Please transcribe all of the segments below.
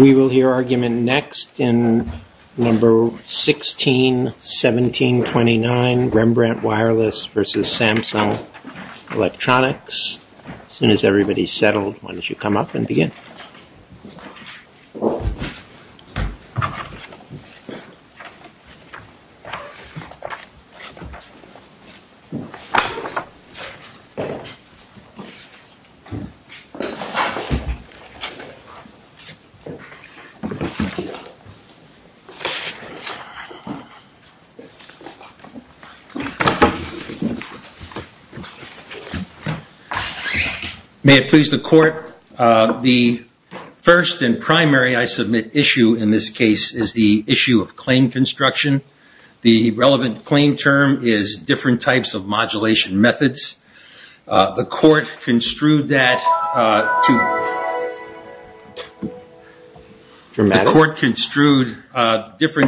We will hear argument next in No. 161729, Rembrandt Wireless v. Samsung Electronics. As soon as everybody is settled, why don't you come up and begin. May it please the court, the first and primary I submit issue in this case is the issue of claim construction. The relevant claim term is different types of modulation methods. The court construed different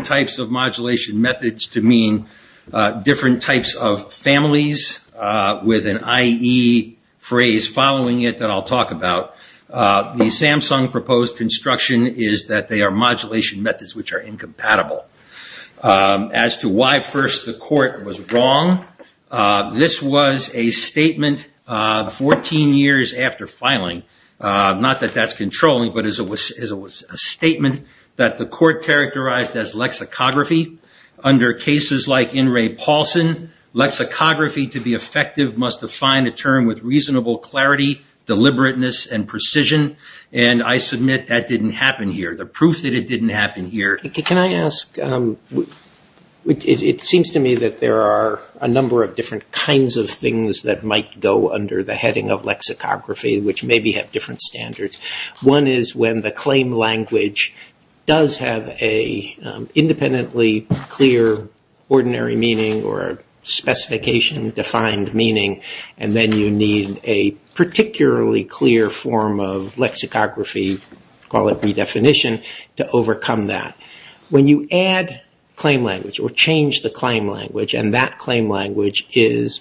types of modulation methods to mean different types of families with an IE phrase following it that I will talk about. The Samsung proposed construction is that they are modulation methods which are incompatible. As to why first the court was wrong, this was a statement 14 years after filing. Not that that is controlling, but it was a statement that the court characterized as lexicography. Under cases like In re Paulson, lexicography to be effective must define a term with reasonable clarity, deliberateness, and precision. I submit that did not happen here. The proof that it did not happen here. It seems to me that there are a number of kinds of things that might go under the heading of lexicography which maybe have different standards. One is when the claim language does have an independently clear ordinary meaning or specification defined meaning and then you need a particularly clear form of lexicography, call it redefinition, to overcome that. When you add claim language or change the claim language and that presents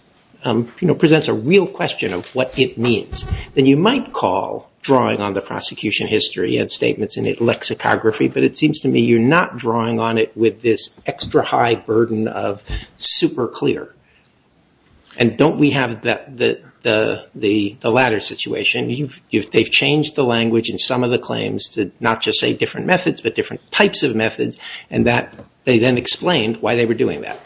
a real question of what it means, then you might call drawing on the prosecution history and statements in lexicography, but it seems to me you are not drawing on it with this extra high burden of super clear. Don't we have the latter situation? They have changed the language in some of the claims to not just say different methods, but different types of methods and they then explained why they were doing that.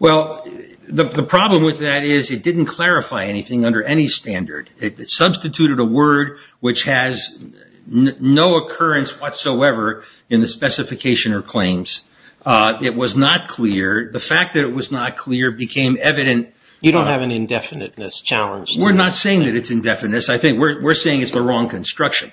The problem with that is it didn't clarify anything under any standard. It substituted a word which has no occurrence whatsoever in the specification or claims. It was not clear. The fact that it was not clear became evident. You don't have an indefiniteness challenge. We are not saying it is indefiniteness. We are saying it is the wrong construction.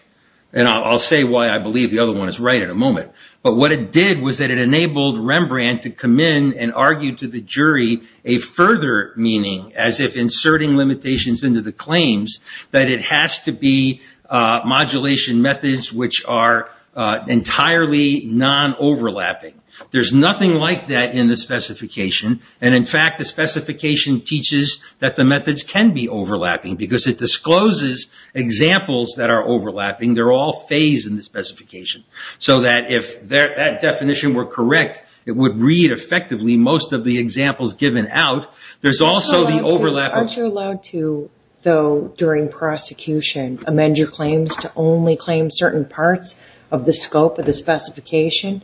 I will say why I believe the other one is right in a moment. What it did was it enabled Rembrandt to come in and argue to the jury a further meaning as if inserting limitations into the claims that it has to be modulation methods which are entirely non-overlapping. There is nothing like that in the specification. In fact, the specification teaches that the methods can overlap because it discloses examples that are overlapping. They are all phased in the specification. If that definition were correct, it would read effectively most of the examples given out. There is also the overlap... Aren't you allowed to, though, during prosecution, amend your claims to only claim certain parts of the scope of the specification?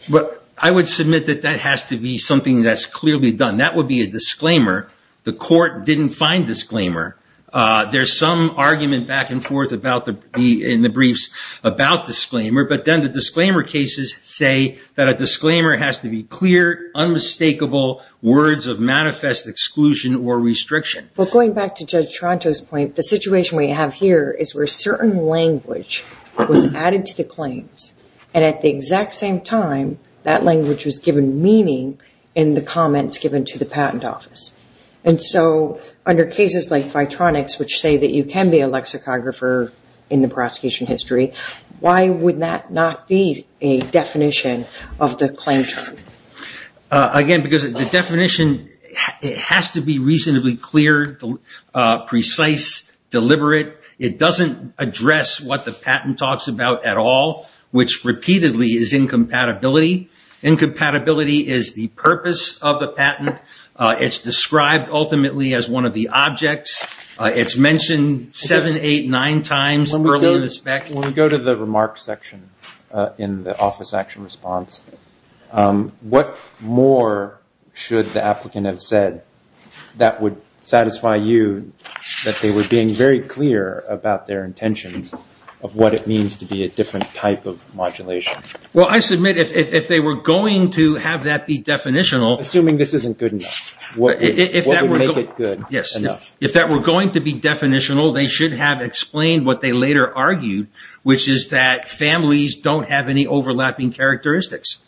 I would submit that that has to be something that is clearly done. That would be a disclaimer. The court didn't find disclaimer. There is some argument back and forth in the briefs about disclaimer, but then the disclaimer cases say that a disclaimer has to be clear, unmistakable, words of manifest exclusion or restriction. Going back to Judge Tronto's point, the situation we have here is where certain language was added to the claims, and at the exact same time, that language was given meaning in the comments given to the patent office. Under cases like Vitronics, which say that you can be a lexicographer in the prosecution history, why would that not be a definition of the claim term? Again, because the definition has to be reasonably clear, precise, deliberate. It doesn't address what the patent talks about at Incompatibility is the purpose of the patent. It's described ultimately as one of the objects. It's mentioned seven, eight, nine times earlier in the spec. When we go to the remarks section in the office action response, what more should the applicant have said that would satisfy you that they were being very clear about their intentions of what it means to be a different type of modulation? Well, I submit if they were going to have that be definitional... Assuming this isn't good enough, what would make it good enough? If that were going to be definitional, they should have explained what they later argued, which is that families don't have any overlapping characteristics.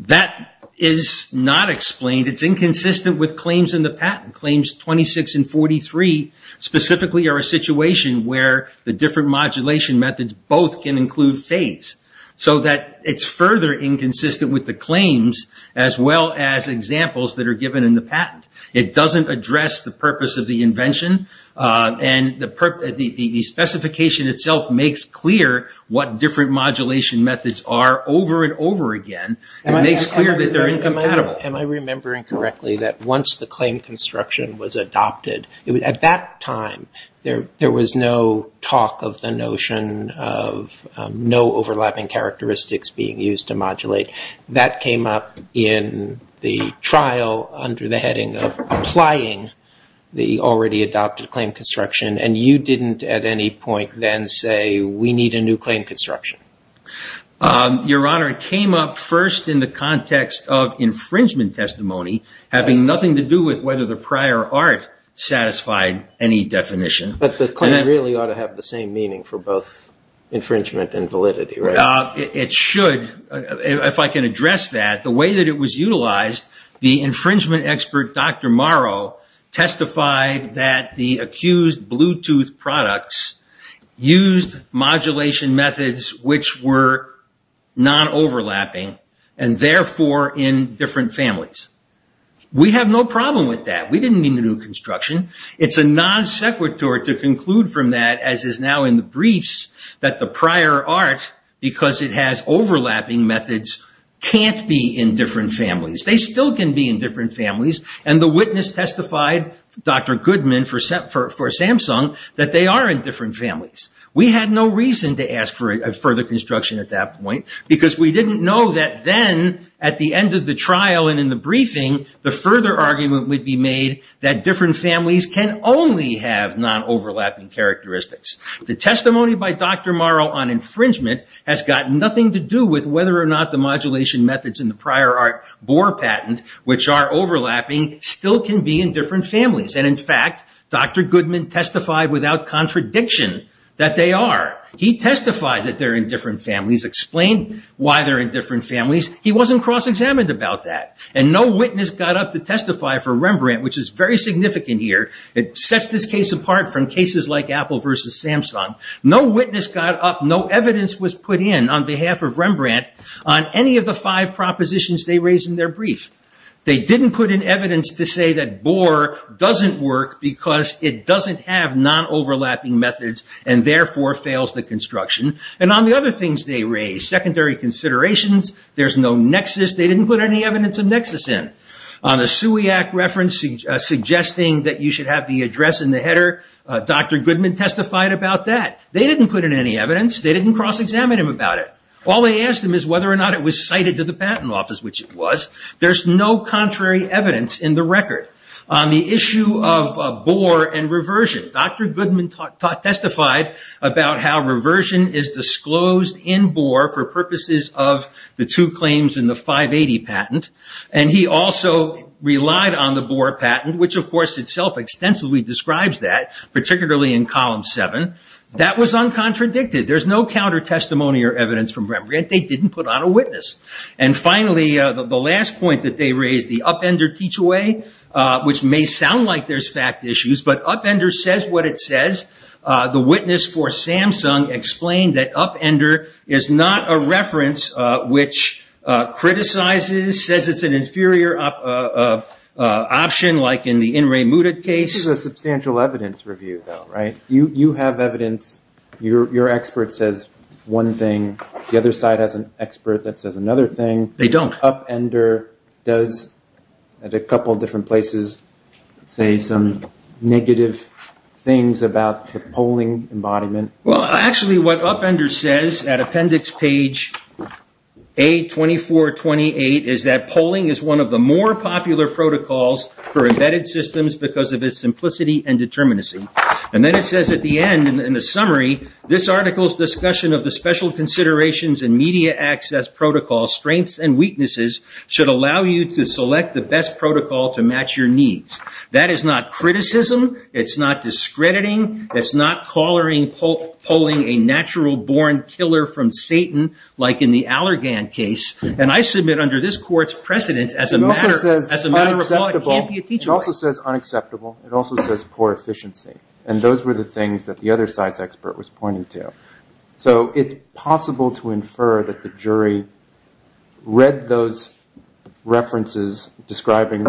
That is not explained. It's inconsistent with claims in the patent. Claims 26 and 43 specifically are a situation where the different modulation methods both can include phase. So that it's further inconsistent with the claims as well as examples that are given in the patent. It doesn't address the purpose of the invention. The specification itself makes clear what different modulation methods are over and over again. It makes clear that they're incompatible. Am I remembering correctly that once the claim construction was adopted, at that time there was no talk of the notion of no overlapping characteristics being used to modulate. That came up in the trial under the heading of applying the already adopted claim construction and you didn't at any point then say, we need a new claim construction. Your Honor, it came up first in the context of infringement testimony, having nothing to do with whether the prior art satisfied any definition. But the claim really ought to have the same meaning for both infringement and validity, right? It should, if I can address that. The way that it was utilized, the infringement expert Dr. Morrow testified that the accused Bluetooth products used modulation methods which were non-overlapping and therefore in different families. We have no problem with that. We didn't need a new construction. It's a non sequitur to conclude from that as is now in the briefs that the prior art, because it has overlapping methods, can't be in different families. They still can be in different families and the witness testified, Dr. Goodman for Samsung, that they are in different families. We had no reason to ask for a further construction at that point because we didn't know that then at the end of the trial and in the briefing, the further argument would be made that different families can only have non-overlapping characteristics. The testimony by Dr. Morrow on infringement has got nothing to do with whether or not the modulation methods in the prior art bore patent, which are overlapping, still can be in different families. In fact, Dr. Goodman testified without contradiction that they are. He testified that they are in different families. He wasn't cross-examined about that. No witness got up to testify for Rembrandt, which is very significant here. It sets this case apart from cases like Apple versus Samsung. No witness got up. No evidence was put in on behalf of Rembrandt on any of the five propositions they raised in their brief. They didn't put in evidence to say that bore doesn't work because it doesn't have non-overlapping methods and therefore fails the There's no nexus. They didn't put any evidence of nexus in. On the SUIAC reference suggesting that you should have the address in the header, Dr. Goodman testified about that. They didn't put in any evidence. They didn't cross-examine him about it. All they asked him is whether or not it was cited to the patent office, which it was. There's no contrary evidence in the record. On the issue of bore and reversion, Dr. Goodman testified about how reversion is disclosed in bore for purposes of the two claims in the 580 patent. He also relied on the bore patent, which of course itself extensively describes that, particularly in column 7. That was uncontradicted. There's no counter-testimony or evidence from Rembrandt. They didn't put on a witness. Finally, the last point that they raised, the upender teach-away, which may sound like there's fact issues, but upender says what it says. The witness for Samsung explained that upender is not a reference which criticizes, says it's an inferior option like in the In Re Muted case. This is a substantial evidence review though, right? You have evidence. Your expert says one thing. The other side has an expert that says another thing. They don't. Upender does, at a couple of different places, say some negative things about the polling embodiment. Actually, what upender says at appendix page A2428 is that polling is one of the more popular protocols for embedded systems because of its simplicity and determinacy. Then it says at the end, in the summary, this article's discussion of the special considerations and media access protocol strengths and weaknesses should allow you to select the best protocol to match your needs. That is not criticism. It's not discrediting. It's not calling a natural born killer from Satan like in the Allergan case. I submit under this court's precedent as a matter of law, it can't be a teach-away. It also says unacceptable. It also says poor efficiency. Those were the things that the other side's expert was pointing to. It's possible to infer that the jury read those references describing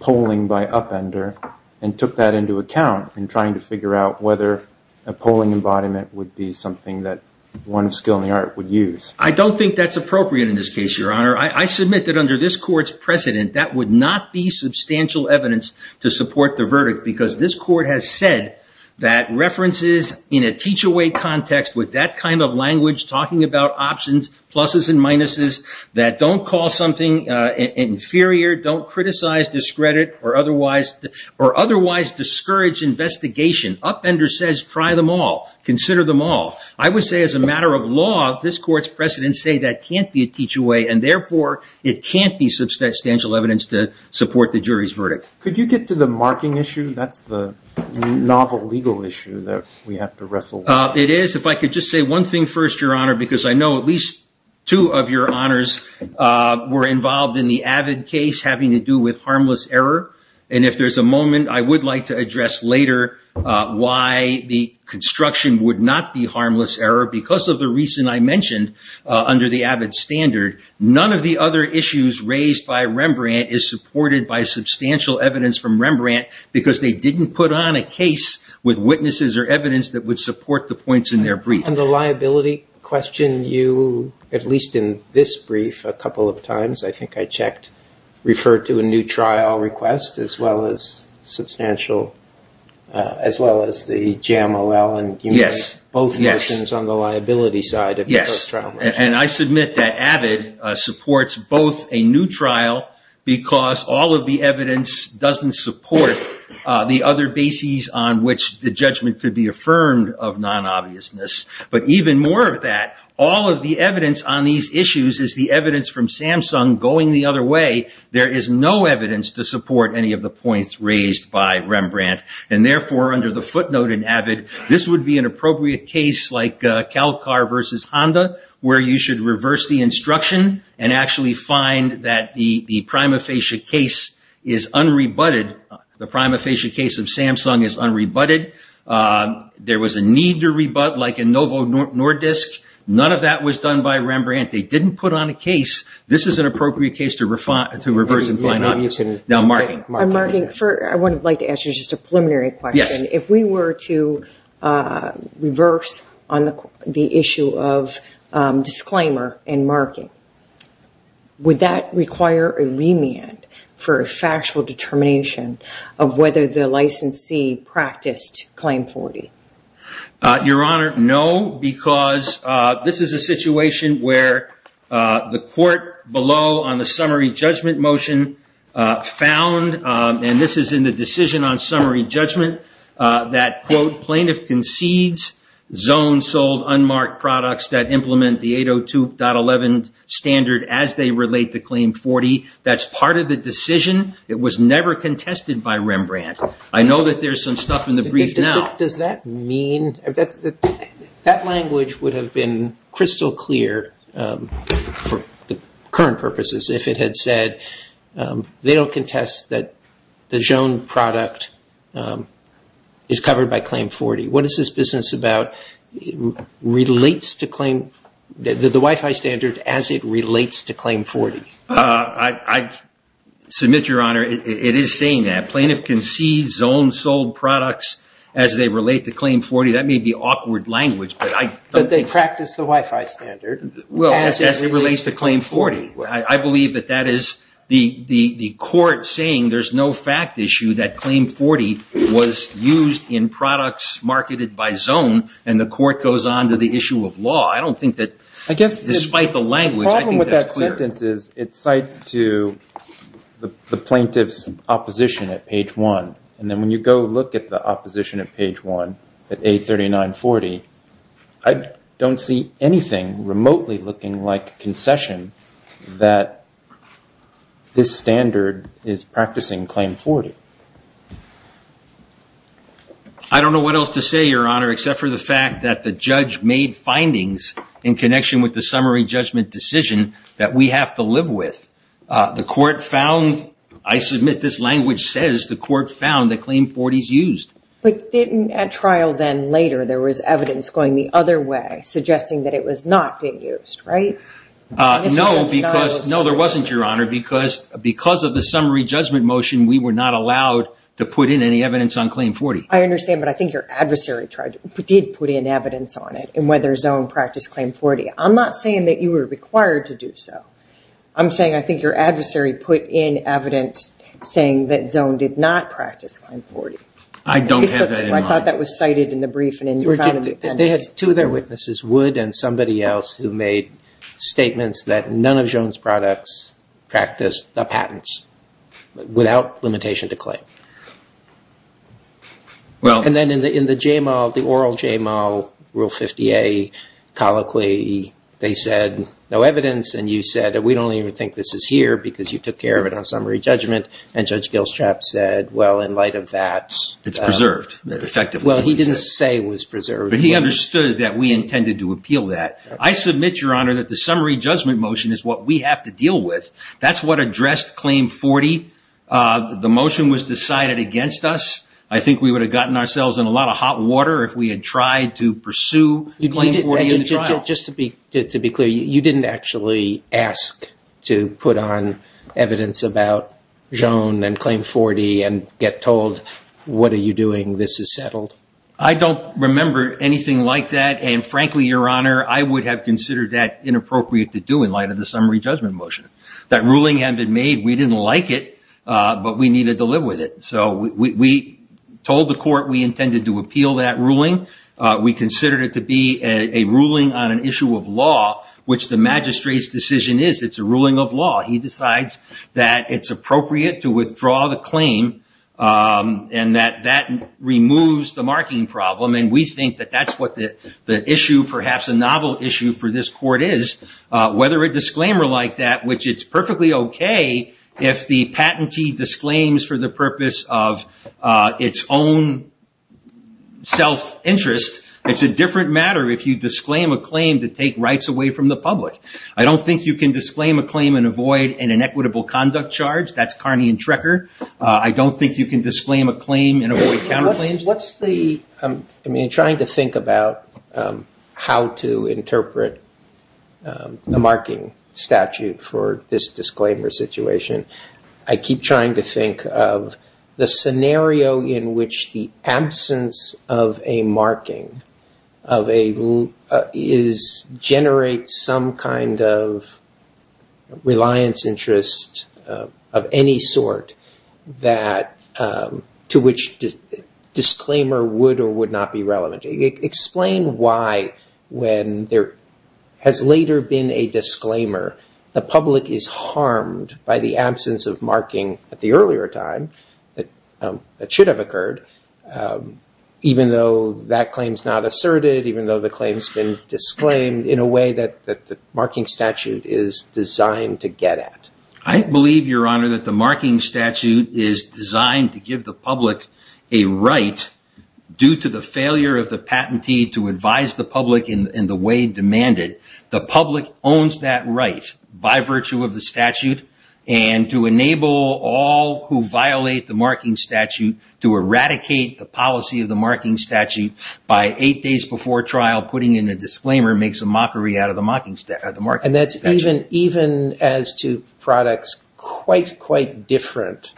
polling by upender and took that into account in trying to figure out whether a polling embodiment would be something that one of skill and the art would use. I don't think that's appropriate in this case, Your Honor. I submit that under this court's precedent, that would not be substantial evidence to support the verdict because this court has said that references in a teach-away context with that kind of language talking about options, pluses and minuses, that don't call something inferior, don't criticize, discredit, or otherwise discourage investigation. Upender says try them all. Consider them all. I would say as a matter of law, this court's precedent say that can't be a teach-away and therefore, it can't be substantial evidence to support the jury's verdict. Could you get to the marking issue? That's the novel legal issue that we have to wrestle with. It is. If I could just say one thing first, Your Honor, because I know at least two of your honors were involved in the AVID case having to do with harmless error. If there's a moment, I would like to address later why the construction would not be harmless error because of the reason I mentioned under the AVID standard. None of the other issues raised by Rembrandt is supported by substantial evidence from Rembrandt because they didn't put on a case with witnesses or evidence that would support the points in their brief. On the liability question, you, at least in this brief a couple of times, I think I checked, referred to a new trial request as well as the GMOL and both versions on the liability side of those trial requests. Yes. I submit that AVID supports both a new trial because all of the evidence doesn't support the other bases on which the judgment could be affirmed of non-obviousness. But even more of that, all of the evidence on these issues is the evidence from Samsung going the other way. There is no evidence to support any of the points raised by Rembrandt. Therefore, under the footnote in AVID, this would be an appropriate case like Calcar versus Honda where you should reverse the instruction and actually find that the prima facie case is unrebutted. The prima facie case of Samsung is unrebutted. There was a need to rebut like in Novo Nordisk. None of that was done by Rembrandt. They didn't put on a case. This is an appropriate case to reverse and find out. Now, marking. On marking, I would like to ask you just a preliminary question. If we were to the issue of disclaimer and marking, would that require a remand for a factual determination of whether the licensee practiced Claim 40? Your Honor, no, because this is a situation where the court below on the summary judgment motion found, and this is in the decision on summary judgment, that, quote, plaintiff concedes zone sold unmarked products that implement the 802.11 standard as they relate to Claim 40. That's part of the decision. It was never contested by Rembrandt. I know that there's some stuff in the brief now. Does that mean? That language would have been crystal clear for current purposes if it had said they'll contest that the zone product is covered by Claim 40. What is this business about? It relates to the Wi-Fi standard as it relates to Claim 40. I submit, Your Honor, it is saying that plaintiff concedes zone sold products as they relate to Claim 40. That may be awkward language. But they practice the Wi-Fi standard. Well, as it relates to Claim 40. I believe that that is the court saying there's no fact issue that Claim 40 was used in products marketed by zone, and the court goes on to the issue of law. I don't think that, despite the language, I think that's clear. The problem with that sentence is it cites to the plaintiff's opposition at page one. And then when you go look at the opposition at page one, at A3940, I don't see anything remotely looking like concession that this standard is practicing Claim 40. I don't know what else to say, Your Honor, except for the fact that the judge made findings in connection with the summary judgment decision that we have to live with. The court found, I submit this language says the court found that Claim 40 is used. But didn't at trial then later, there was evidence going the other way, suggesting that it was not being used, right? No, because, no, there wasn't, Your Honor, because of the summary judgment motion, we were not allowed to put in any evidence on Claim 40. I understand, but I think your adversary did put in evidence on it, and whether zone practiced Claim 40. I'm not saying that you were required to do so. I'm saying I think your adversary put in evidence saying that zone did not practice Claim 40. I don't have that in mind. I thought that was cited in the brief. They had two of their witnesses, Wood and somebody else, who made statements that none of zone's products practiced the patents without limitation to claim. And then in the JML, the oral JML, Rule 50A, colloquy, they said no evidence, and you said that we don't even think this is here because you took care of it on summary judgment, and Judge Gilstrap said, well, in light of that. It's preserved effectively. He didn't say it was preserved. But he understood that we intended to appeal that. I submit, Your Honor, that the summary judgment motion is what we have to deal with. That's what addressed Claim 40. The motion was decided against us. I think we would have gotten ourselves in a lot of hot water if we had tried to pursue Claim 40 in the trial. Just to be clear, you didn't actually ask to put on evidence about zone and Claim 40 and get told, what are you doing? This is settled. I don't remember anything like that. And frankly, Your Honor, I would have considered that inappropriate to do in light of the summary judgment motion. That ruling had been made. We didn't like it, but we needed to live with it. So we told the court we intended to appeal that ruling. We considered it to be a ruling on an issue of law, which the magistrate's decision is. It's a ruling of law. He decides that it's a claim and that that removes the marking problem. And we think that that's what the issue, perhaps a novel issue for this court is, whether a disclaimer like that, which it's perfectly okay if the patentee disclaims for the purpose of its own self-interest. It's a different matter if you disclaim a claim to take rights away from the public. I don't think you can disclaim a claim and avoid an inequitable conduct charge. That's Carney and Trecker. I don't think you can disclaim a claim and avoid counterclaims. What's the, I mean, trying to think about how to interpret the marking statute for this disclaimer situation. I keep trying to think of the scenario in which the public is harmed by the absence of marking at the earlier time that should have occurred, even though that claim is not asserted, even though the claim has been disclaimed in a way that the marking statute is designed to get at. I believe your honor that the marking statute is designed to give the public a right due to the failure of the patentee to advise the public in the way demanded. The public owns that right by virtue of the statute and to enable all who violate the marking statute to eradicate the policy of the marking statute by eight days before trial, putting in a disclaimer makes mockery out of the marking statute. And that's even as to products quite, quite different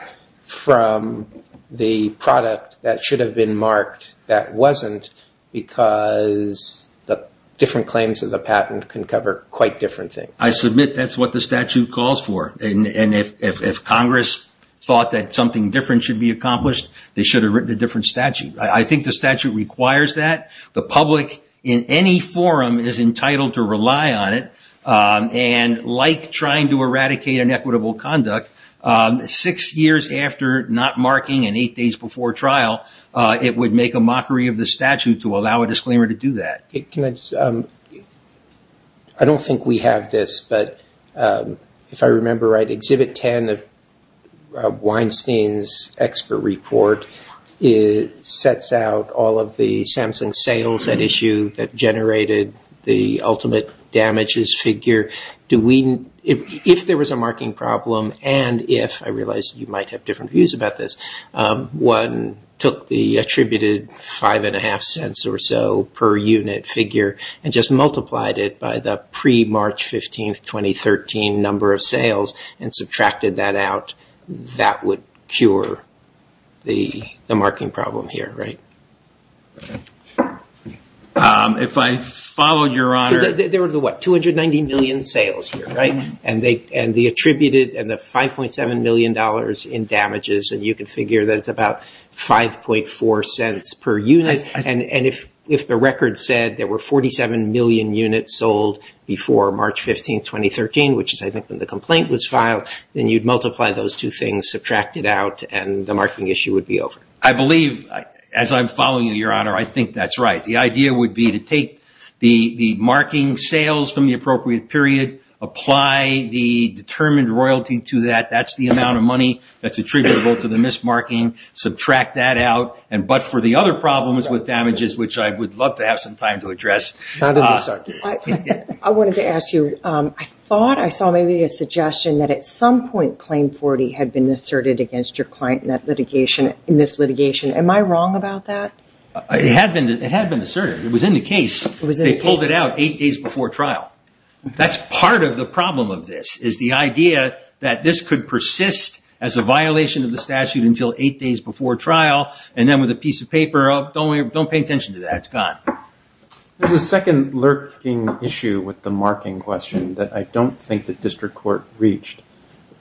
from the product that should have been marked that wasn't because the different claims of the patent can cover quite different things. I submit that's what the statute calls for. And if Congress thought that something different should be accomplished, they should have written a different statute. I think the statute requires that the public in any forum is entitled to rely on it. And like trying to eradicate inequitable conduct six years after not marking and eight days before trial, it would make a mockery of the statute to allow a disclaimer to do that. I don't think we have this, but if I remember right, exhibit 10 of Weinstein's report sets out all of the Samsung sales at issue that generated the ultimate damages figure. If there was a marking problem and if, I realize you might have different views about this, one took the attributed five and a half cents or so per unit figure and just multiplied it by the the marking problem here, right? If I followed your honor... There were the what? 290 million sales here, right? And the attributed and the $5.7 million in damages. And you can figure that it's about 5.4 cents per unit. And if the record said there were 47 million units sold before March 15th, 2013, which is I think when the complaint was filed, then you'd multiply those two things, subtract it out, and the marking issue would be over. I believe, as I'm following you, your honor, I think that's right. The idea would be to take the marking sales from the appropriate period, apply the determined royalty to that. That's the amount of money that's attributable to the mismarking. Subtract that out. But for the other problems with damages, which I would love to have some time to address... I wanted to ask you, I thought I saw maybe a suggestion that at some point Claim 40 had been asserted against your client in this litigation. Am I wrong about that? It had been asserted. It was in the case. They pulled it out eight days before trial. That's part of the problem of this, is the idea that this could persist as a violation of the statute until eight days before trial. And then with a piece of paper, don't pay attention to that. It's gone. There's a second lurking issue with the marking question that I don't think the district court reached.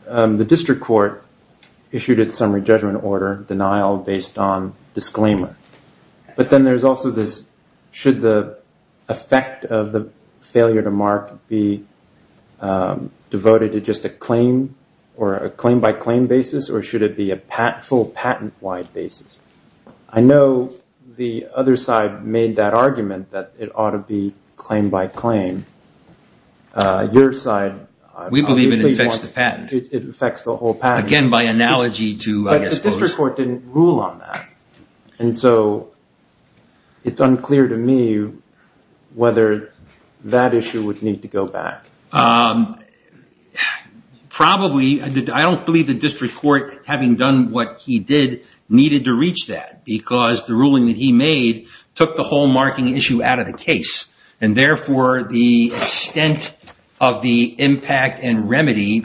The district court issued its summary judgment order denial based on disclaimer. But then there's also this, should the effect of the failure to mark be devoted to just a claim, or a claim by claim basis, or should it be a full patent wide basis? I know the other side made that argument that it ought to be claim by claim. Your side... We believe it affects the patent. It affects the whole patent. Again, by analogy to... But the district court didn't rule on that. And so it's unclear to me whether that issue would need to go back. Probably. I don't believe the district court, having done what he did, needed to reach that because the ruling that he made took the whole marking issue out of the case. And therefore, the extent of the impact and remedy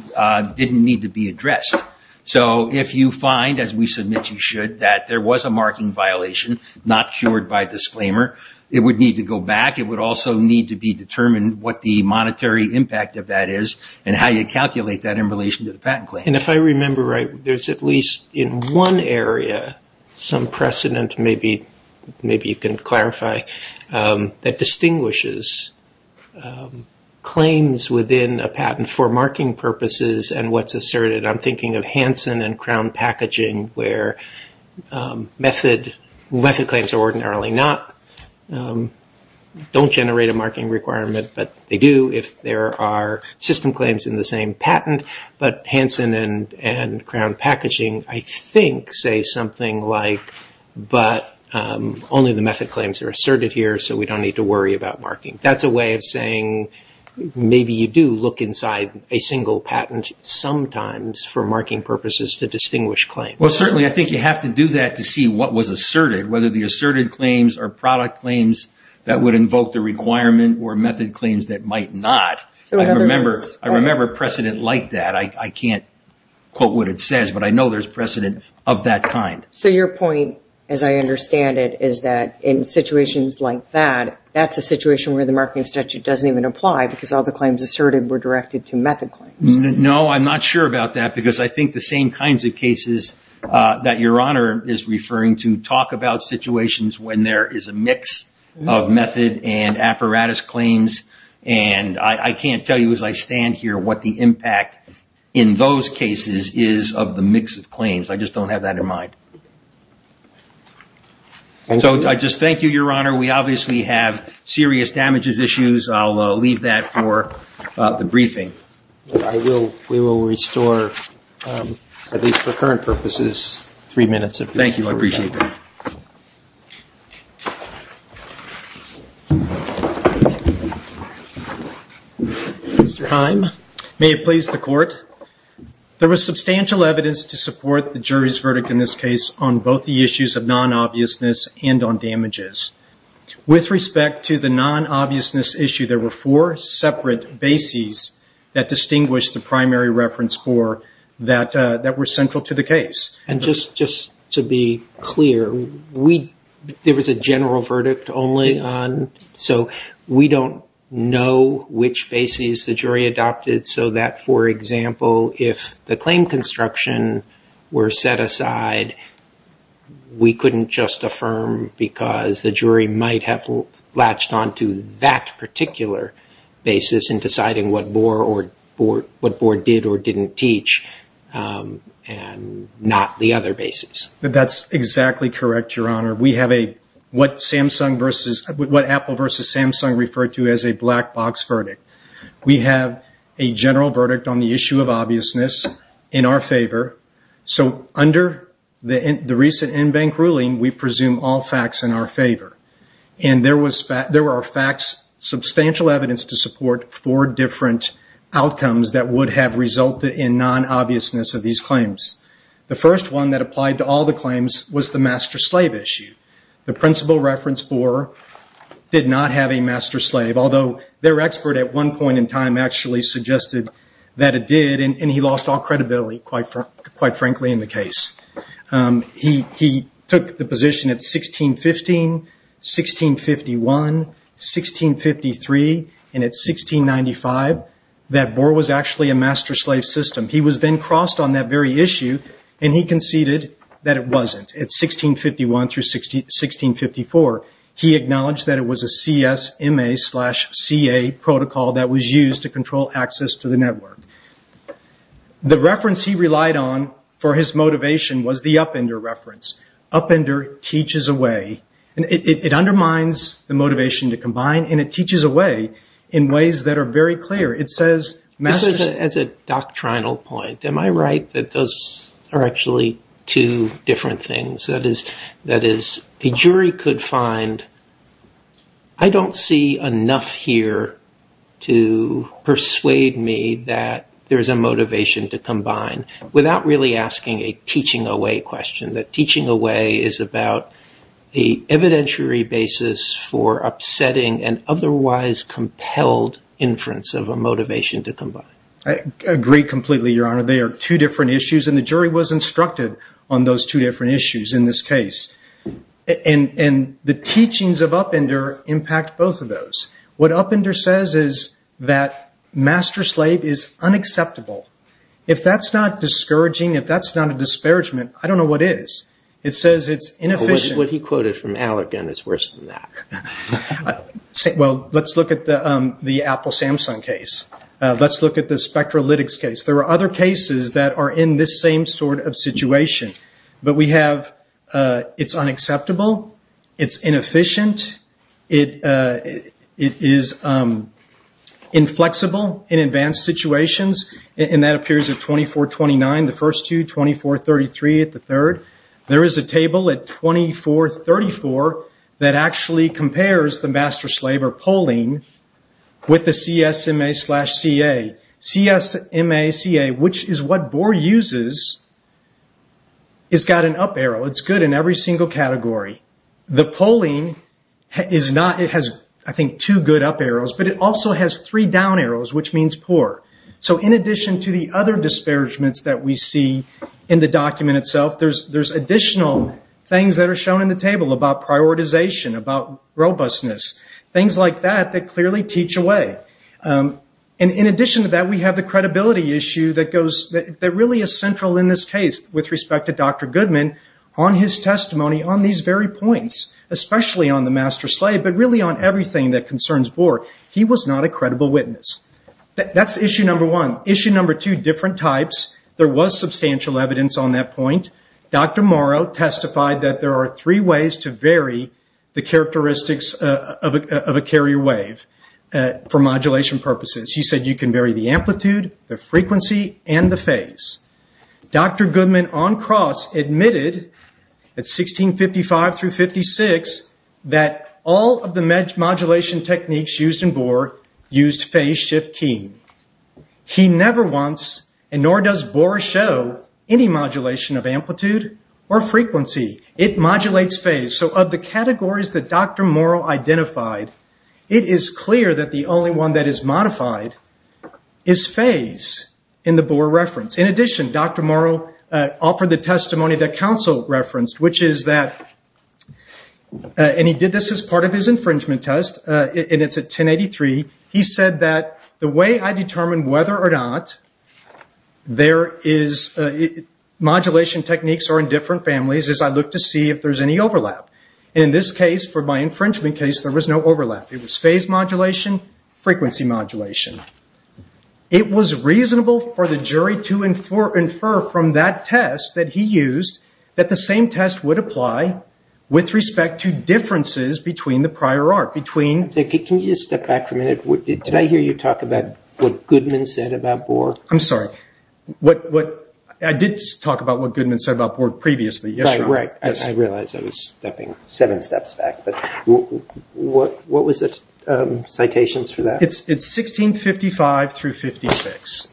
didn't need to be addressed. So if you find, as we submit you should, that there was a marking violation, not cured by disclaimer, it would need to go back. It would also need to be determined what the monetary impact of that is and how you calculate that in relation to the patent claim. If I remember right, there's at least in one area some precedent, maybe you can clarify, that distinguishes claims within a patent for marking purposes and what's asserted. I'm thinking of Hansen and Crown Packaging where method claims are ordinarily not... Don't generate a marking requirement, but they do if there are system claims in the same patent. But Hansen and Crown Packaging, I think, say something like, but only the method claims are asserted here, so we don't need to worry about marking. That's a way of saying, maybe you do look inside a single patent, sometimes, for marking purposes to distinguish claims. Well, certainly, I think you have to do that to see what was asserted, whether the asserted claims are product claims that would invoke the requirement or method claims that might not. I remember precedent like that. I can't quote what it says, but I know there's precedent of that kind. So your point, as I understand it, is that in situations like that, that's a situation where the marking statute doesn't even apply because all the claims asserted were directed to method claims. No, I'm not sure about that because I think the same kinds of cases that Your Honor is referring to talk about situations when there is a mix of method and apparatus claims, and I can't tell you as I stand here what the impact in those cases is of the mix of claims. I just don't have that in mind. So I just thank you, Your Honor. We obviously have serious damages issues. I'll leave that for the briefing. We will restore, at least for current purposes, three minutes. Thank you. I appreciate that. Mr. Heim, may it please the Court. There was substantial evidence to support the jury's verdict in this case on both the issues of non-obviousness and on damages. With respect to the non-obviousness issue, there were four separate bases that distinguished the jury. There was a general verdict only, so we don't know which bases the jury adopted so that, for example, if the claim construction were set aside, we couldn't just affirm because the jury might have latched onto that particular basis in deciding what Boer did or didn't teach and not the other basis. That's exactly correct, Your Honor. We have what Apple versus Samsung referred to as a black box verdict. We have a general verdict on the issue of obviousness in our favor. So under the recent in-bank ruling, we presume all facts in our favor, and there were substantial evidence to support four different outcomes that would have resulted in non-obviousness of these claims. The first one that applied to all the claims was the master-slave issue. The principal reference, Boer, did not have a master-slave, although their expert at one point in time actually suggested that it did, and he lost all credibility, quite frankly, in the case. He took the position at 1615, 1651, 1653, and at 1695 that Boer was actually a master-slave system. He was then crossed on that very issue, and he conceded that it wasn't. At 1651 through 1654, he acknowledged that it was a CSMA slash CA protocol that was used to control access to the network. The reference he relied on for his motivation was the Upender reference. Upender teaches a way, and it undermines the motivation to combine, and it teaches a way in ways that are very clear. It says master-slave. As a doctrinal point, am I right that those are actually two different things? That is, a jury could find, I don't see enough here to persuade me that there's a motivation to combine without really asking a teaching away question, that teaching away is about the evidentiary basis for upsetting an otherwise compelled inference of a motivation to combine? I agree completely, Your Honor. They are two different issues, and the jury was instructed on those two different issues in this case. The teachings of Upender impact both of those. What Upender says is that master-slave is unacceptable. If that's not discouraging, if that's not a disparagement, I don't know what is. It says it's inefficient. What he quoted from Allergan is worse than that. Let's look at the Apple-Samsung case. Let's look at the Spectralytics case. There are other cases that are in this same sort of situation. But we have, it's unacceptable, it's inefficient, it is inflexible in advanced situations, and that appears at 2429, the first two, 2433 at the third. There is a table at 2434 that actually compares the master-slave or polling with the CSMA slash CA. CSMA CA, which is what Bohr uses, has got an up arrow. It's good in every single category. The polling has, I think, two good up arrows, but it also has three down arrows, which means poor. In addition to the other disparagements that we see in the document itself, there are additional things that are shown in the table about prioritization, about robustness, things like that that clearly teach away. In addition to that, we have the credibility issue that really is central in this case with respect to Dr. Goodman on his testimony on these very points, especially on the master-slave, but really on everything that concerns Bohr. He was not a credible witness. That's issue number one. Issue number two, different types. There was substantial evidence on that point. Dr. Morrow testified that there are three ways to vary the characteristics of a carrier wave for modulation purposes. He said you can vary the frequency and the phase. Dr. Goodman, on cross, admitted at 1655 through 1656 that all of the modulation techniques used in Bohr used phase shift keying. He never once, and nor does Bohr show, any modulation of amplitude or frequency. It modulates phase. Of the categories that Dr. Goodman has modified is phase in the Bohr reference. In addition, Dr. Morrow offered the testimony that counsel referenced. He did this as part of his infringement test. It's at 1083. He said that the way I determine whether or not modulation techniques are in different families is I look to see if there's any overlap. In this case, for my infringement case, there was no overlap. It was phase modulation, frequency modulation. It was reasonable for the jury to infer from that test that he used that the same test would apply with respect to differences between the prior art. Can you step back for a minute? Did I hear you talk about what Goodman said about Bohr? I'm sorry. I did talk about what Goodman said about Bohr previously. I realized I was stepping seven steps back. What was the citation for that? It's 1655 through 1656.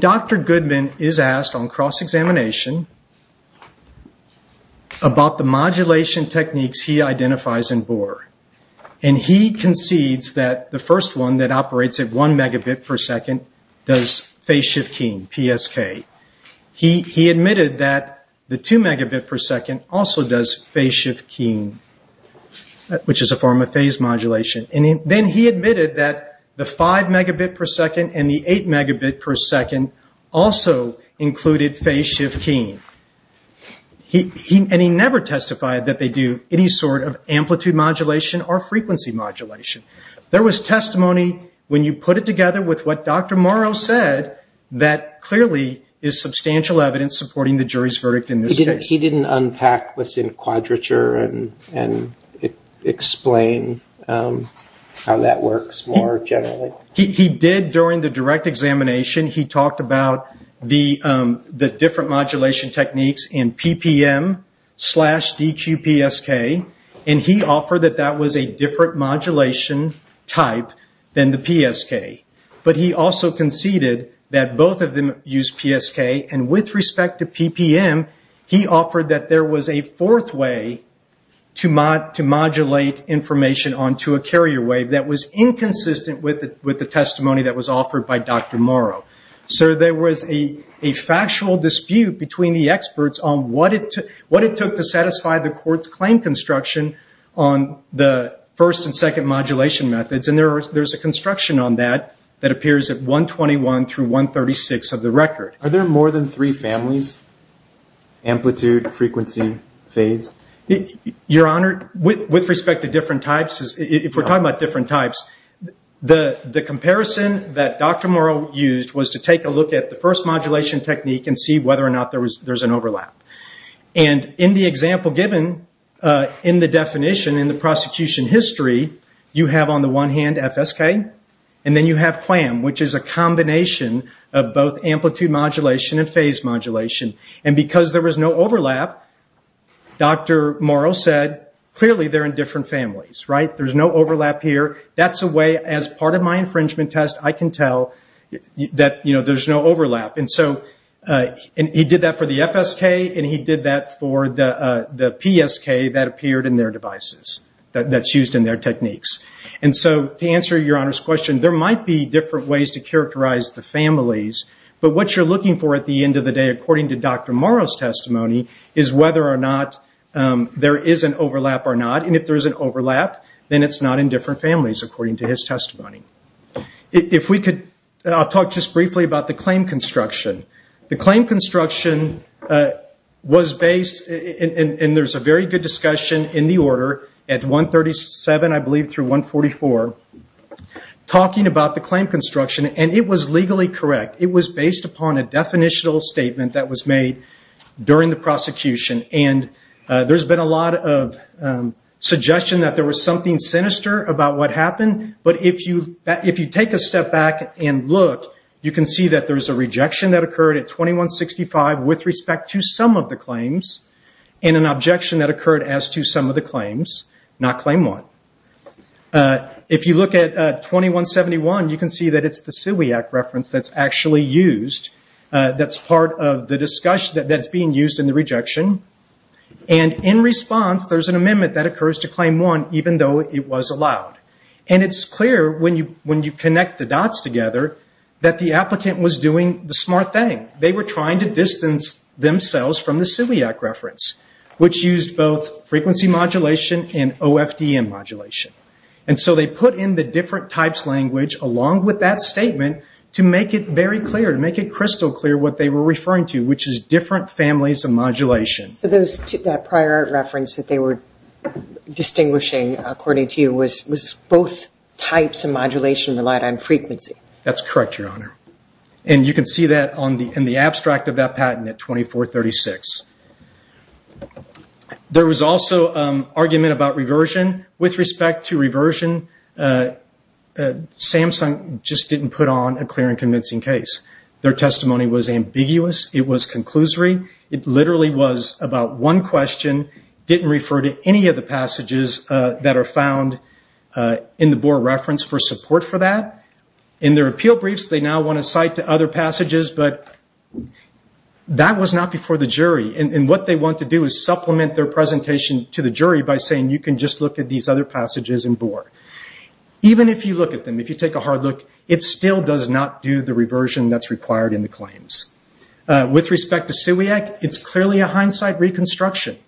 Dr. Goodman is asked on cross-examination about the modulation techniques he identifies in Bohr. He concedes that the first one that the two megabit per second also does phase shift keying, which is a form of phase modulation. Then he admitted that the five megabit per second and the eight megabit per second also included phase shift keying. He never testified that they do any sort of amplitude modulation or frequency modulation. There was testimony when you put it together with what Dr. Goodman said. He didn't unpack what's in quadrature and explain how that works more generally? He did during the direct examination. He talked about the different modulation techniques in PPM slash DQPSK. He offered that that was a different modulation type than the PSK. He also conceded that both of them use PSK. With respect to PPM, he offered that there was a fourth way to modulate information onto a carrier wave that was inconsistent with the testimony that was offered by Dr. Morrow. There was a factual dispute between the experts on what it took to satisfy the court's claim construction on the first and second modulation methods. There's a construction on that that appears at 121 through 136 of the record. Are there more than three families? Amplitude, frequency, phase? With respect to different types, if we're talking about different types, the comparison that Dr. Morrow used was to take a look at the first modulation technique and see whether or not there's an overlap. In the example given, in the definition in the prosecution history, you have on the one hand FSK and then you have QAM, which is a combination of both amplitude modulation and phase modulation. Because there was no overlap, Dr. Morrow said, clearly they're in different families. There's no overlap here. That's a way, as part of my infringement test, I can tell that there's no overlap. He did that for the FSK and he did that for the PSK that appeared in their devices, that's used in their techniques. To answer Your Honor's question, there might be different ways to characterize the families, but what you're looking for at the end of the day, according to Dr. Morrow's testimony, is whether or not there is an overlap or not. If there is an overlap, then it's not in different families, according to his testimony. I'll talk just briefly about the claim construction. The claim construction was based, and there's a very good discussion in the order at 137, I believe, through 144, talking about the claim construction. It was legally correct. It was based upon a definitional statement that was made during the prosecution. There's been a lot of suggestion that there was something sinister about what happened, but if you take a step back and look, you can see that there's a rejection that occurred at 2165, with respect to some of the claims, and an objection that occurred as to some of the claims, not claim one. If you look at 2171, you can see that it's the SIWI Act reference that's actually used. That's part of the discussion that's being used in the rejection. In response, there's an amendment that occurs to claim one, even though it was allowed. It's clear, when you connect the dots together, that the applicant was doing the smart thing. They were trying to distance themselves from the SIWI Act reference, which used both frequency modulation and OFDM modulation. They put in the different types language, along with that statement, to make it very clear, to make it crystal clear what they were referring to, which is different families of modulation. That prior reference that they were distinguishing, according to you, was both types of modulation relied on frequency. That's correct, Your Honor. You can see that in the abstract of that patent at 2436. There was also an argument about reversion. With respect to reversion, Samsung just didn't put on a clear and convincing case. Their testimony was ambiguous. It was about one question, didn't refer to any of the passages that are found in the Boer reference for support for that. In their appeal briefs, they now want to cite to other passages, but that was not before the jury. What they want to do is supplement their presentation to the jury by saying, you can just look at these other passages in Boer. Even if you look at them, if you take a hard look, it still does not do the reversion that's required in the claims. With respect to Siwiak, it's clearly a hindsight reconstruction.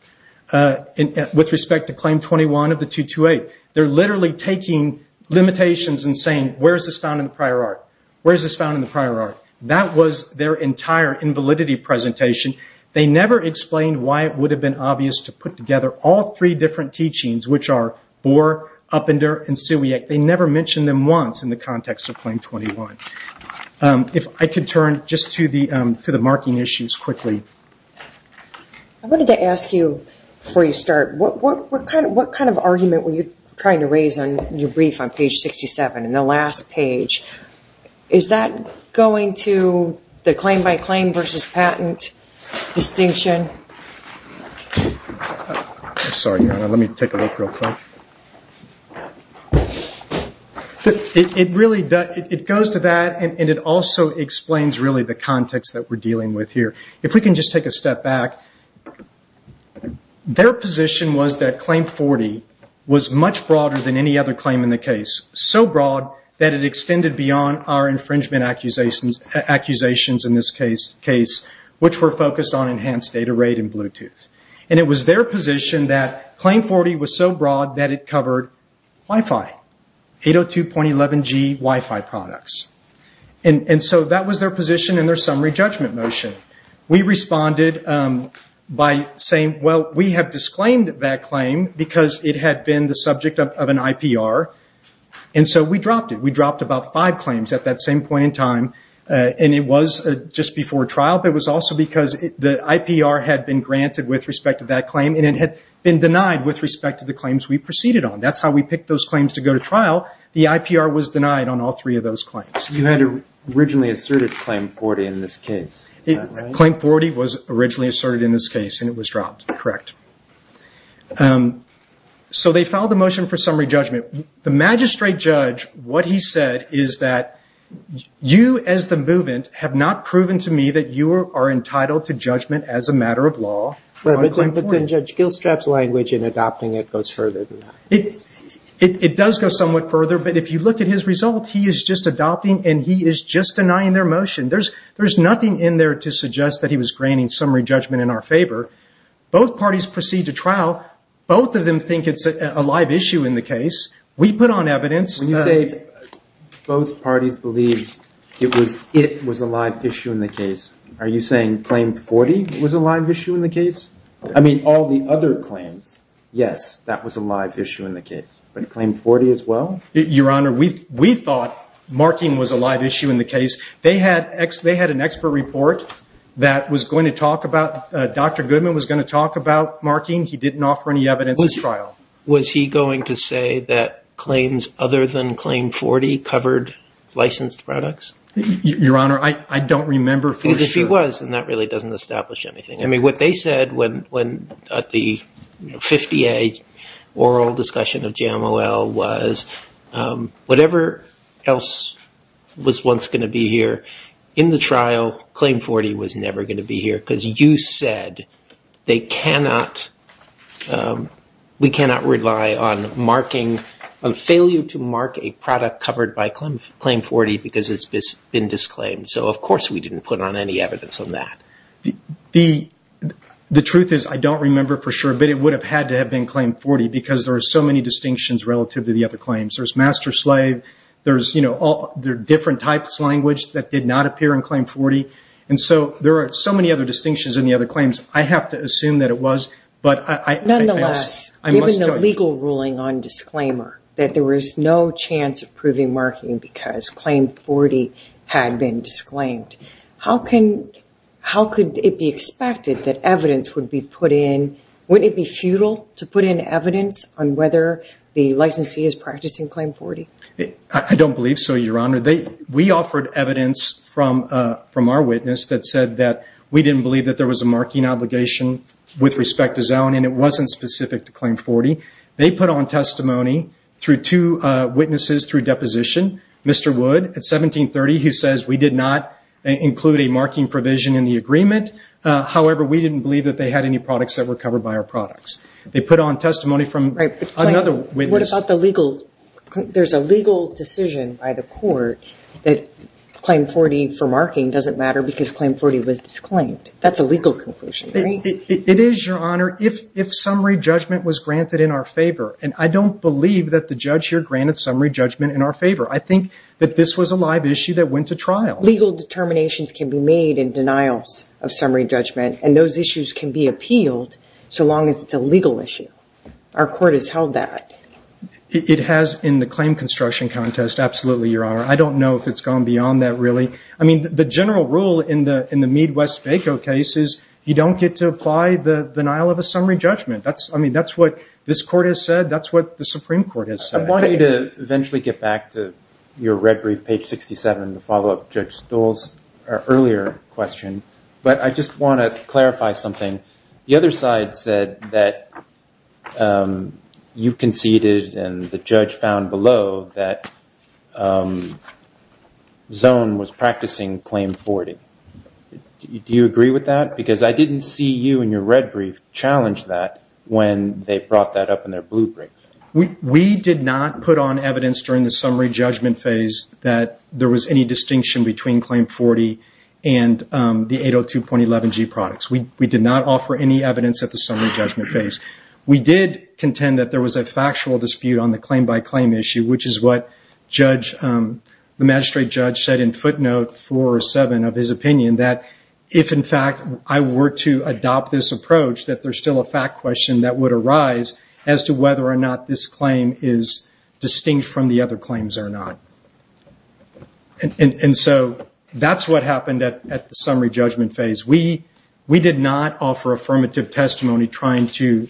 With respect to Claim 21 of the 228, they're literally taking limitations and saying, where is this found in the prior art? Where is this found in the prior art? That was their entire invalidity presentation. They never explained why it would have been obvious to put together all three different teachings, which are Boer, Uppender, and Siwiak. They never mentioned them once in the context of Claim 21. If I could turn just to the marking issues quickly. I wanted to ask you, before you start, what kind of argument were you trying to raise in your brief on page 67, in the last page? Is that going to the claim by claim versus patent distinction? I'm sorry. Let me take a look real quick. It goes to that, and it also explains the context that we're dealing with here. If we can just take a step back, their position was that Claim 40 was much broader than any other claim in the case. So broad that it extended beyond our infringement accusations in this case, which were focused on enhanced data rate and Bluetooth. It was their position that it covered Wi-Fi, 802.11g Wi-Fi products. That was their position in their summary judgment motion. We responded by saying, well, we have disclaimed that claim because it had been the subject of an IPR. We dropped it. We dropped about five claims at that same point in time. It was just before trial, but it was also because the IPR had been granted with respect to that That's how we picked those claims to go to trial. The IPR was denied on all three of those claims. You had originally asserted Claim 40 in this case. Claim 40 was originally asserted in this case, and it was dropped. Correct. So they filed a motion for summary judgment. The magistrate judge, what he said is that you as the movement have not proven to me that you are entitled to judgment as a matter of law. But then Judge Gilstrap's language in adopting it goes further than that. It does go somewhat further, but if you look at his result, he is just adopting and he is just denying their motion. There's nothing in there to suggest that he was granting summary judgment in our favor. Both parties proceed to trial. Both of them think it's a live issue in the case. We put on evidence. When you say both parties believe it was a live issue in the case, are you saying Claim 40 was a live issue in the case? I mean, all the other claims. Yes, that was a live issue in the case, but Claim 40 as well? Your Honor, we thought marking was a live issue in the case. They had an expert report that was going to talk about, Dr. Goodman was going to talk about marking. He didn't offer any evidence at trial. Was he going to say that claims other than Claim 40 covered licensed products? Your Honor, I don't remember for sure. Because if he was, then that really doesn't establish anything. I mean, what they said at the 50A oral discussion of Jamo L. was whatever else was once going to be here in the trial, Claim 40 was never going to be here because you said they cannot, we cannot rely on marking, on failure to mark a product covered by Claim 40 because it's been disclaimed. So, of course, we didn't put on any evidence on that. The truth is I don't remember for sure, but it would have had to have been Claim 40 because there are so many distinctions relative to the other claims. There's master-slave. There are different types of language that did not appear in Claim 40. And so, there are so many other distinctions in the other claims. I have to assume that it was. Nonetheless, given the legal ruling on disclaimer that there was no chance of proving marking because Claim 40 had been disclaimed, how can, how could it be expected that evidence would be put in? Wouldn't it be futile to put in evidence on whether the licensee is practicing Claim 40? I don't believe so, Your Honor. We offered evidence from our witness that we didn't believe that there was a marking obligation with respect to zone and it wasn't specific to Claim 40. They put on testimony through two witnesses through deposition, Mr. Wood at 1730, who says we did not include a marking provision in the agreement. However, we didn't believe that they had any products that were covered by our products. They put on testimony from another witness. What about the legal, there's a legal decision by the court that Claim 40 for marking doesn't matter because Claim 40 was disclaimed. That's a legal conclusion, right? It is, Your Honor, if summary judgment was granted in our favor. And I don't believe that the judge here granted summary judgment in our favor. I think that this was a live issue that went to trial. Legal determinations can be made in denials of summary judgment and those issues can be appealed so long as it's a legal issue. Our court has held that. It has in the claim construction contest, absolutely, Your Honor. I don't know if it's gone beyond that really. I mean, the general rule in the Mead-West-Baco case is you don't get to apply the denial of a summary judgment. I mean, that's what this court has said. That's what the Supreme Court has said. I want you to eventually get back to your red brief, page 67, the follow-up to Judge Stoll's earlier question. But I just want to clarify something. The other side said that you conceded and the judge found below that Zone was practicing Claim 40. Do you agree with that? Because I didn't see you in your red brief challenge that when they brought that up in their blue brief. We did not put on evidence during the summary judgment phase that there was any distinction between Claim 40 and the 802.11g products. We did not offer any evidence at the summary judgment phase. We did contend that there was a factual dispute on the claim-by-claim issue, which is what the magistrate judge said in footnote 407 of his opinion, that if, in fact, I were to adopt this approach, that there's still a fact question that would arise as to whether or not this claim is distinct from the other claims or not. And so that's what happened at the summary judgment phase. We did not offer affirmative testimony trying to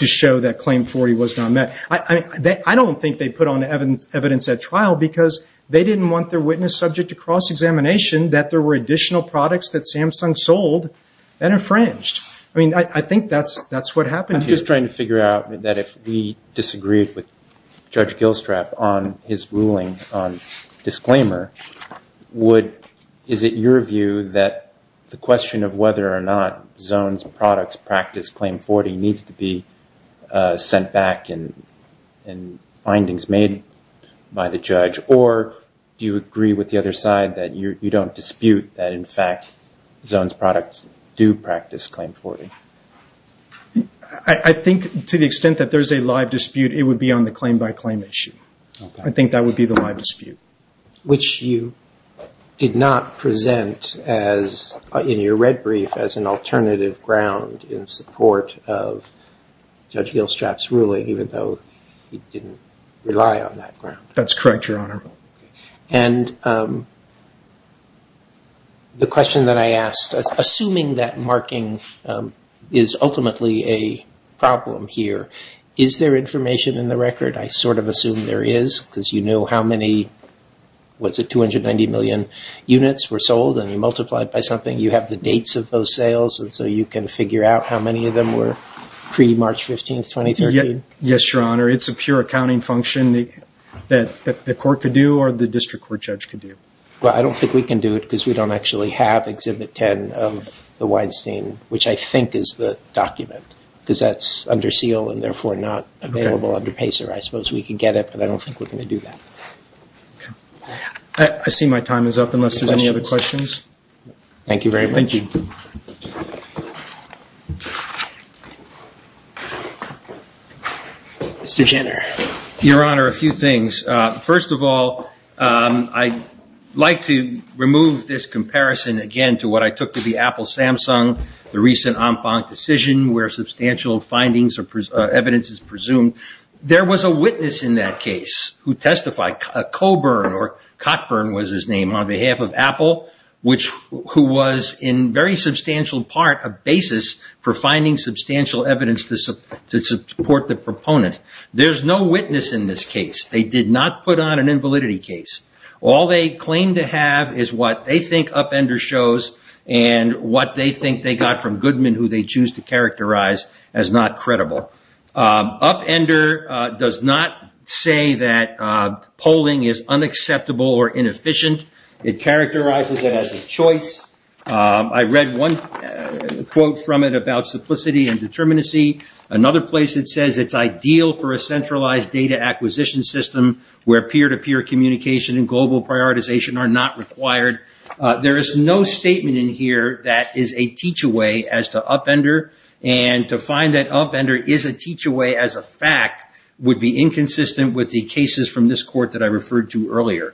show that Claim 40 was not met. I don't think they put on evidence at trial because they didn't want their witness subject to cross-examination that there were additional products that Samsung sold that infringed. I mean, I think that's what happened here. I'm just trying to figure out that if we disagreed with Judge the question of whether or not Zones products practice Claim 40 needs to be sent back and findings made by the judge, or do you agree with the other side that you don't dispute that, in fact, Zones products do practice Claim 40? I think to the extent that there's a live dispute, it would be on the claim-by-claim issue. I think that would be the live dispute. Which you did not present as, in your red brief, as an alternative ground in support of Judge Gilstrap's ruling, even though he didn't rely on that ground. That's correct, Your Honor. And the question that I asked, assuming that marking is ultimately a problem here, is there information in the record? I sort of assume there is because you know how many what's it, 290 million units were sold and you multiply it by something. You have the dates of those sales and so you can figure out how many of them were pre-March 15, 2013. Yes, Your Honor. It's a pure accounting function that the court could do or the district court judge could do. Well, I don't think we can do it because we don't actually have Exhibit 10 of the Weinstein, which I think is the document because that's under seal and therefore not available under PACER. I suppose we can get it, but I don't think we're going to do that. I see my time is up unless there's any other questions. Thank you very much. Mr. Jenner. Your Honor, a few things. First of all, I'd like to remove this comparison, again, to what I took to be Apple-Samsung, the recent Hong Kong decision where substantial findings evidence is presumed. There was a witness in that case who testified, Coburn or Cockburn was his name, on behalf of Apple, who was in very substantial part a basis for finding substantial evidence to support the proponent. There's no witness in this case. They did not put on an invalidity case. All they claim to have is what they think Upender shows and what they think they Upender does not say that polling is unacceptable or inefficient. It characterizes it as a choice. I read one quote from it about simplicity and determinacy. Another place it says it's ideal for a centralized data acquisition system where peer-to-peer communication and global prioritization are not required. There is no statement in here that is a teach-away as to Upender is a teach-away as a fact would be inconsistent with the cases from this court that I referred to earlier.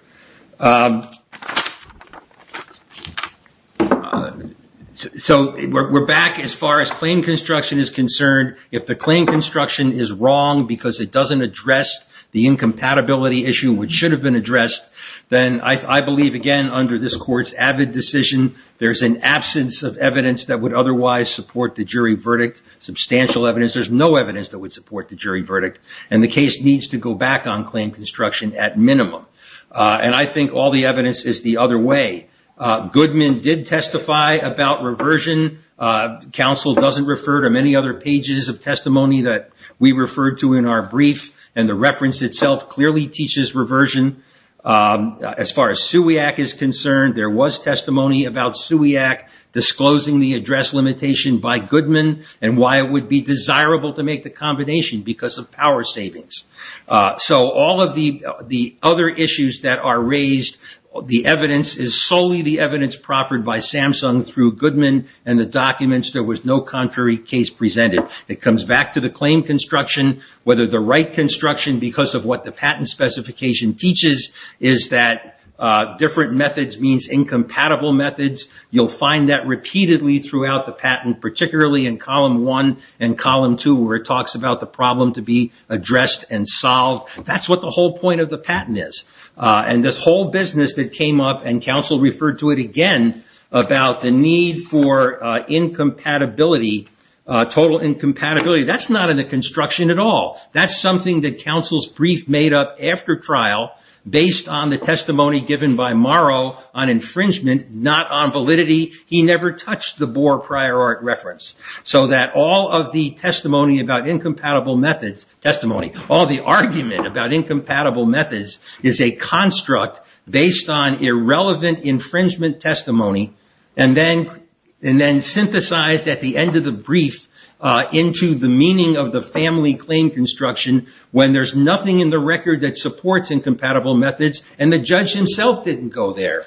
We're back as far as claim construction is concerned. If the claim construction is wrong because it doesn't address the incompatibility issue, which should have been addressed, then I believe, again, under this court's avid decision, there's an absence of evidence that would otherwise support the jury verdict, substantial evidence. There's no evidence that would support the jury verdict, and the case needs to go back on claim construction at minimum. And I think all the evidence is the other way. Goodman did testify about reversion. Counsel doesn't refer to many other pages of testimony that we referred to in our brief, and the reference itself clearly teaches reversion. As far as SUIAC is concerned, there was testimony about SUIAC disclosing the address limitation by Goodman and why it would be desirable to make the combination because of power savings. So all of the other issues that are raised, the evidence is solely the evidence proffered by Samsung through Goodman and the documents. There was no contrary case presented. It comes back to the claim construction, whether the right construction because of what the patent specification teaches is that different methods means incompatible methods. You'll find that repeatedly throughout the patent, particularly in column one and column two, where it talks about the problem to be addressed and solved. That's what the whole point of the patent is. And this whole business that came up, and counsel referred to it again, about the need for total incompatibility, that's not in the construction at all. That's something that based on the testimony given by Morrow on infringement, not on validity, he never touched the Bohr prior art reference. So that all of the testimony about incompatible methods, testimony, all the argument about incompatible methods is a construct based on irrelevant infringement testimony, and then synthesized at the end of the brief into the meaning of the incompatible methods, and the judge himself didn't go there.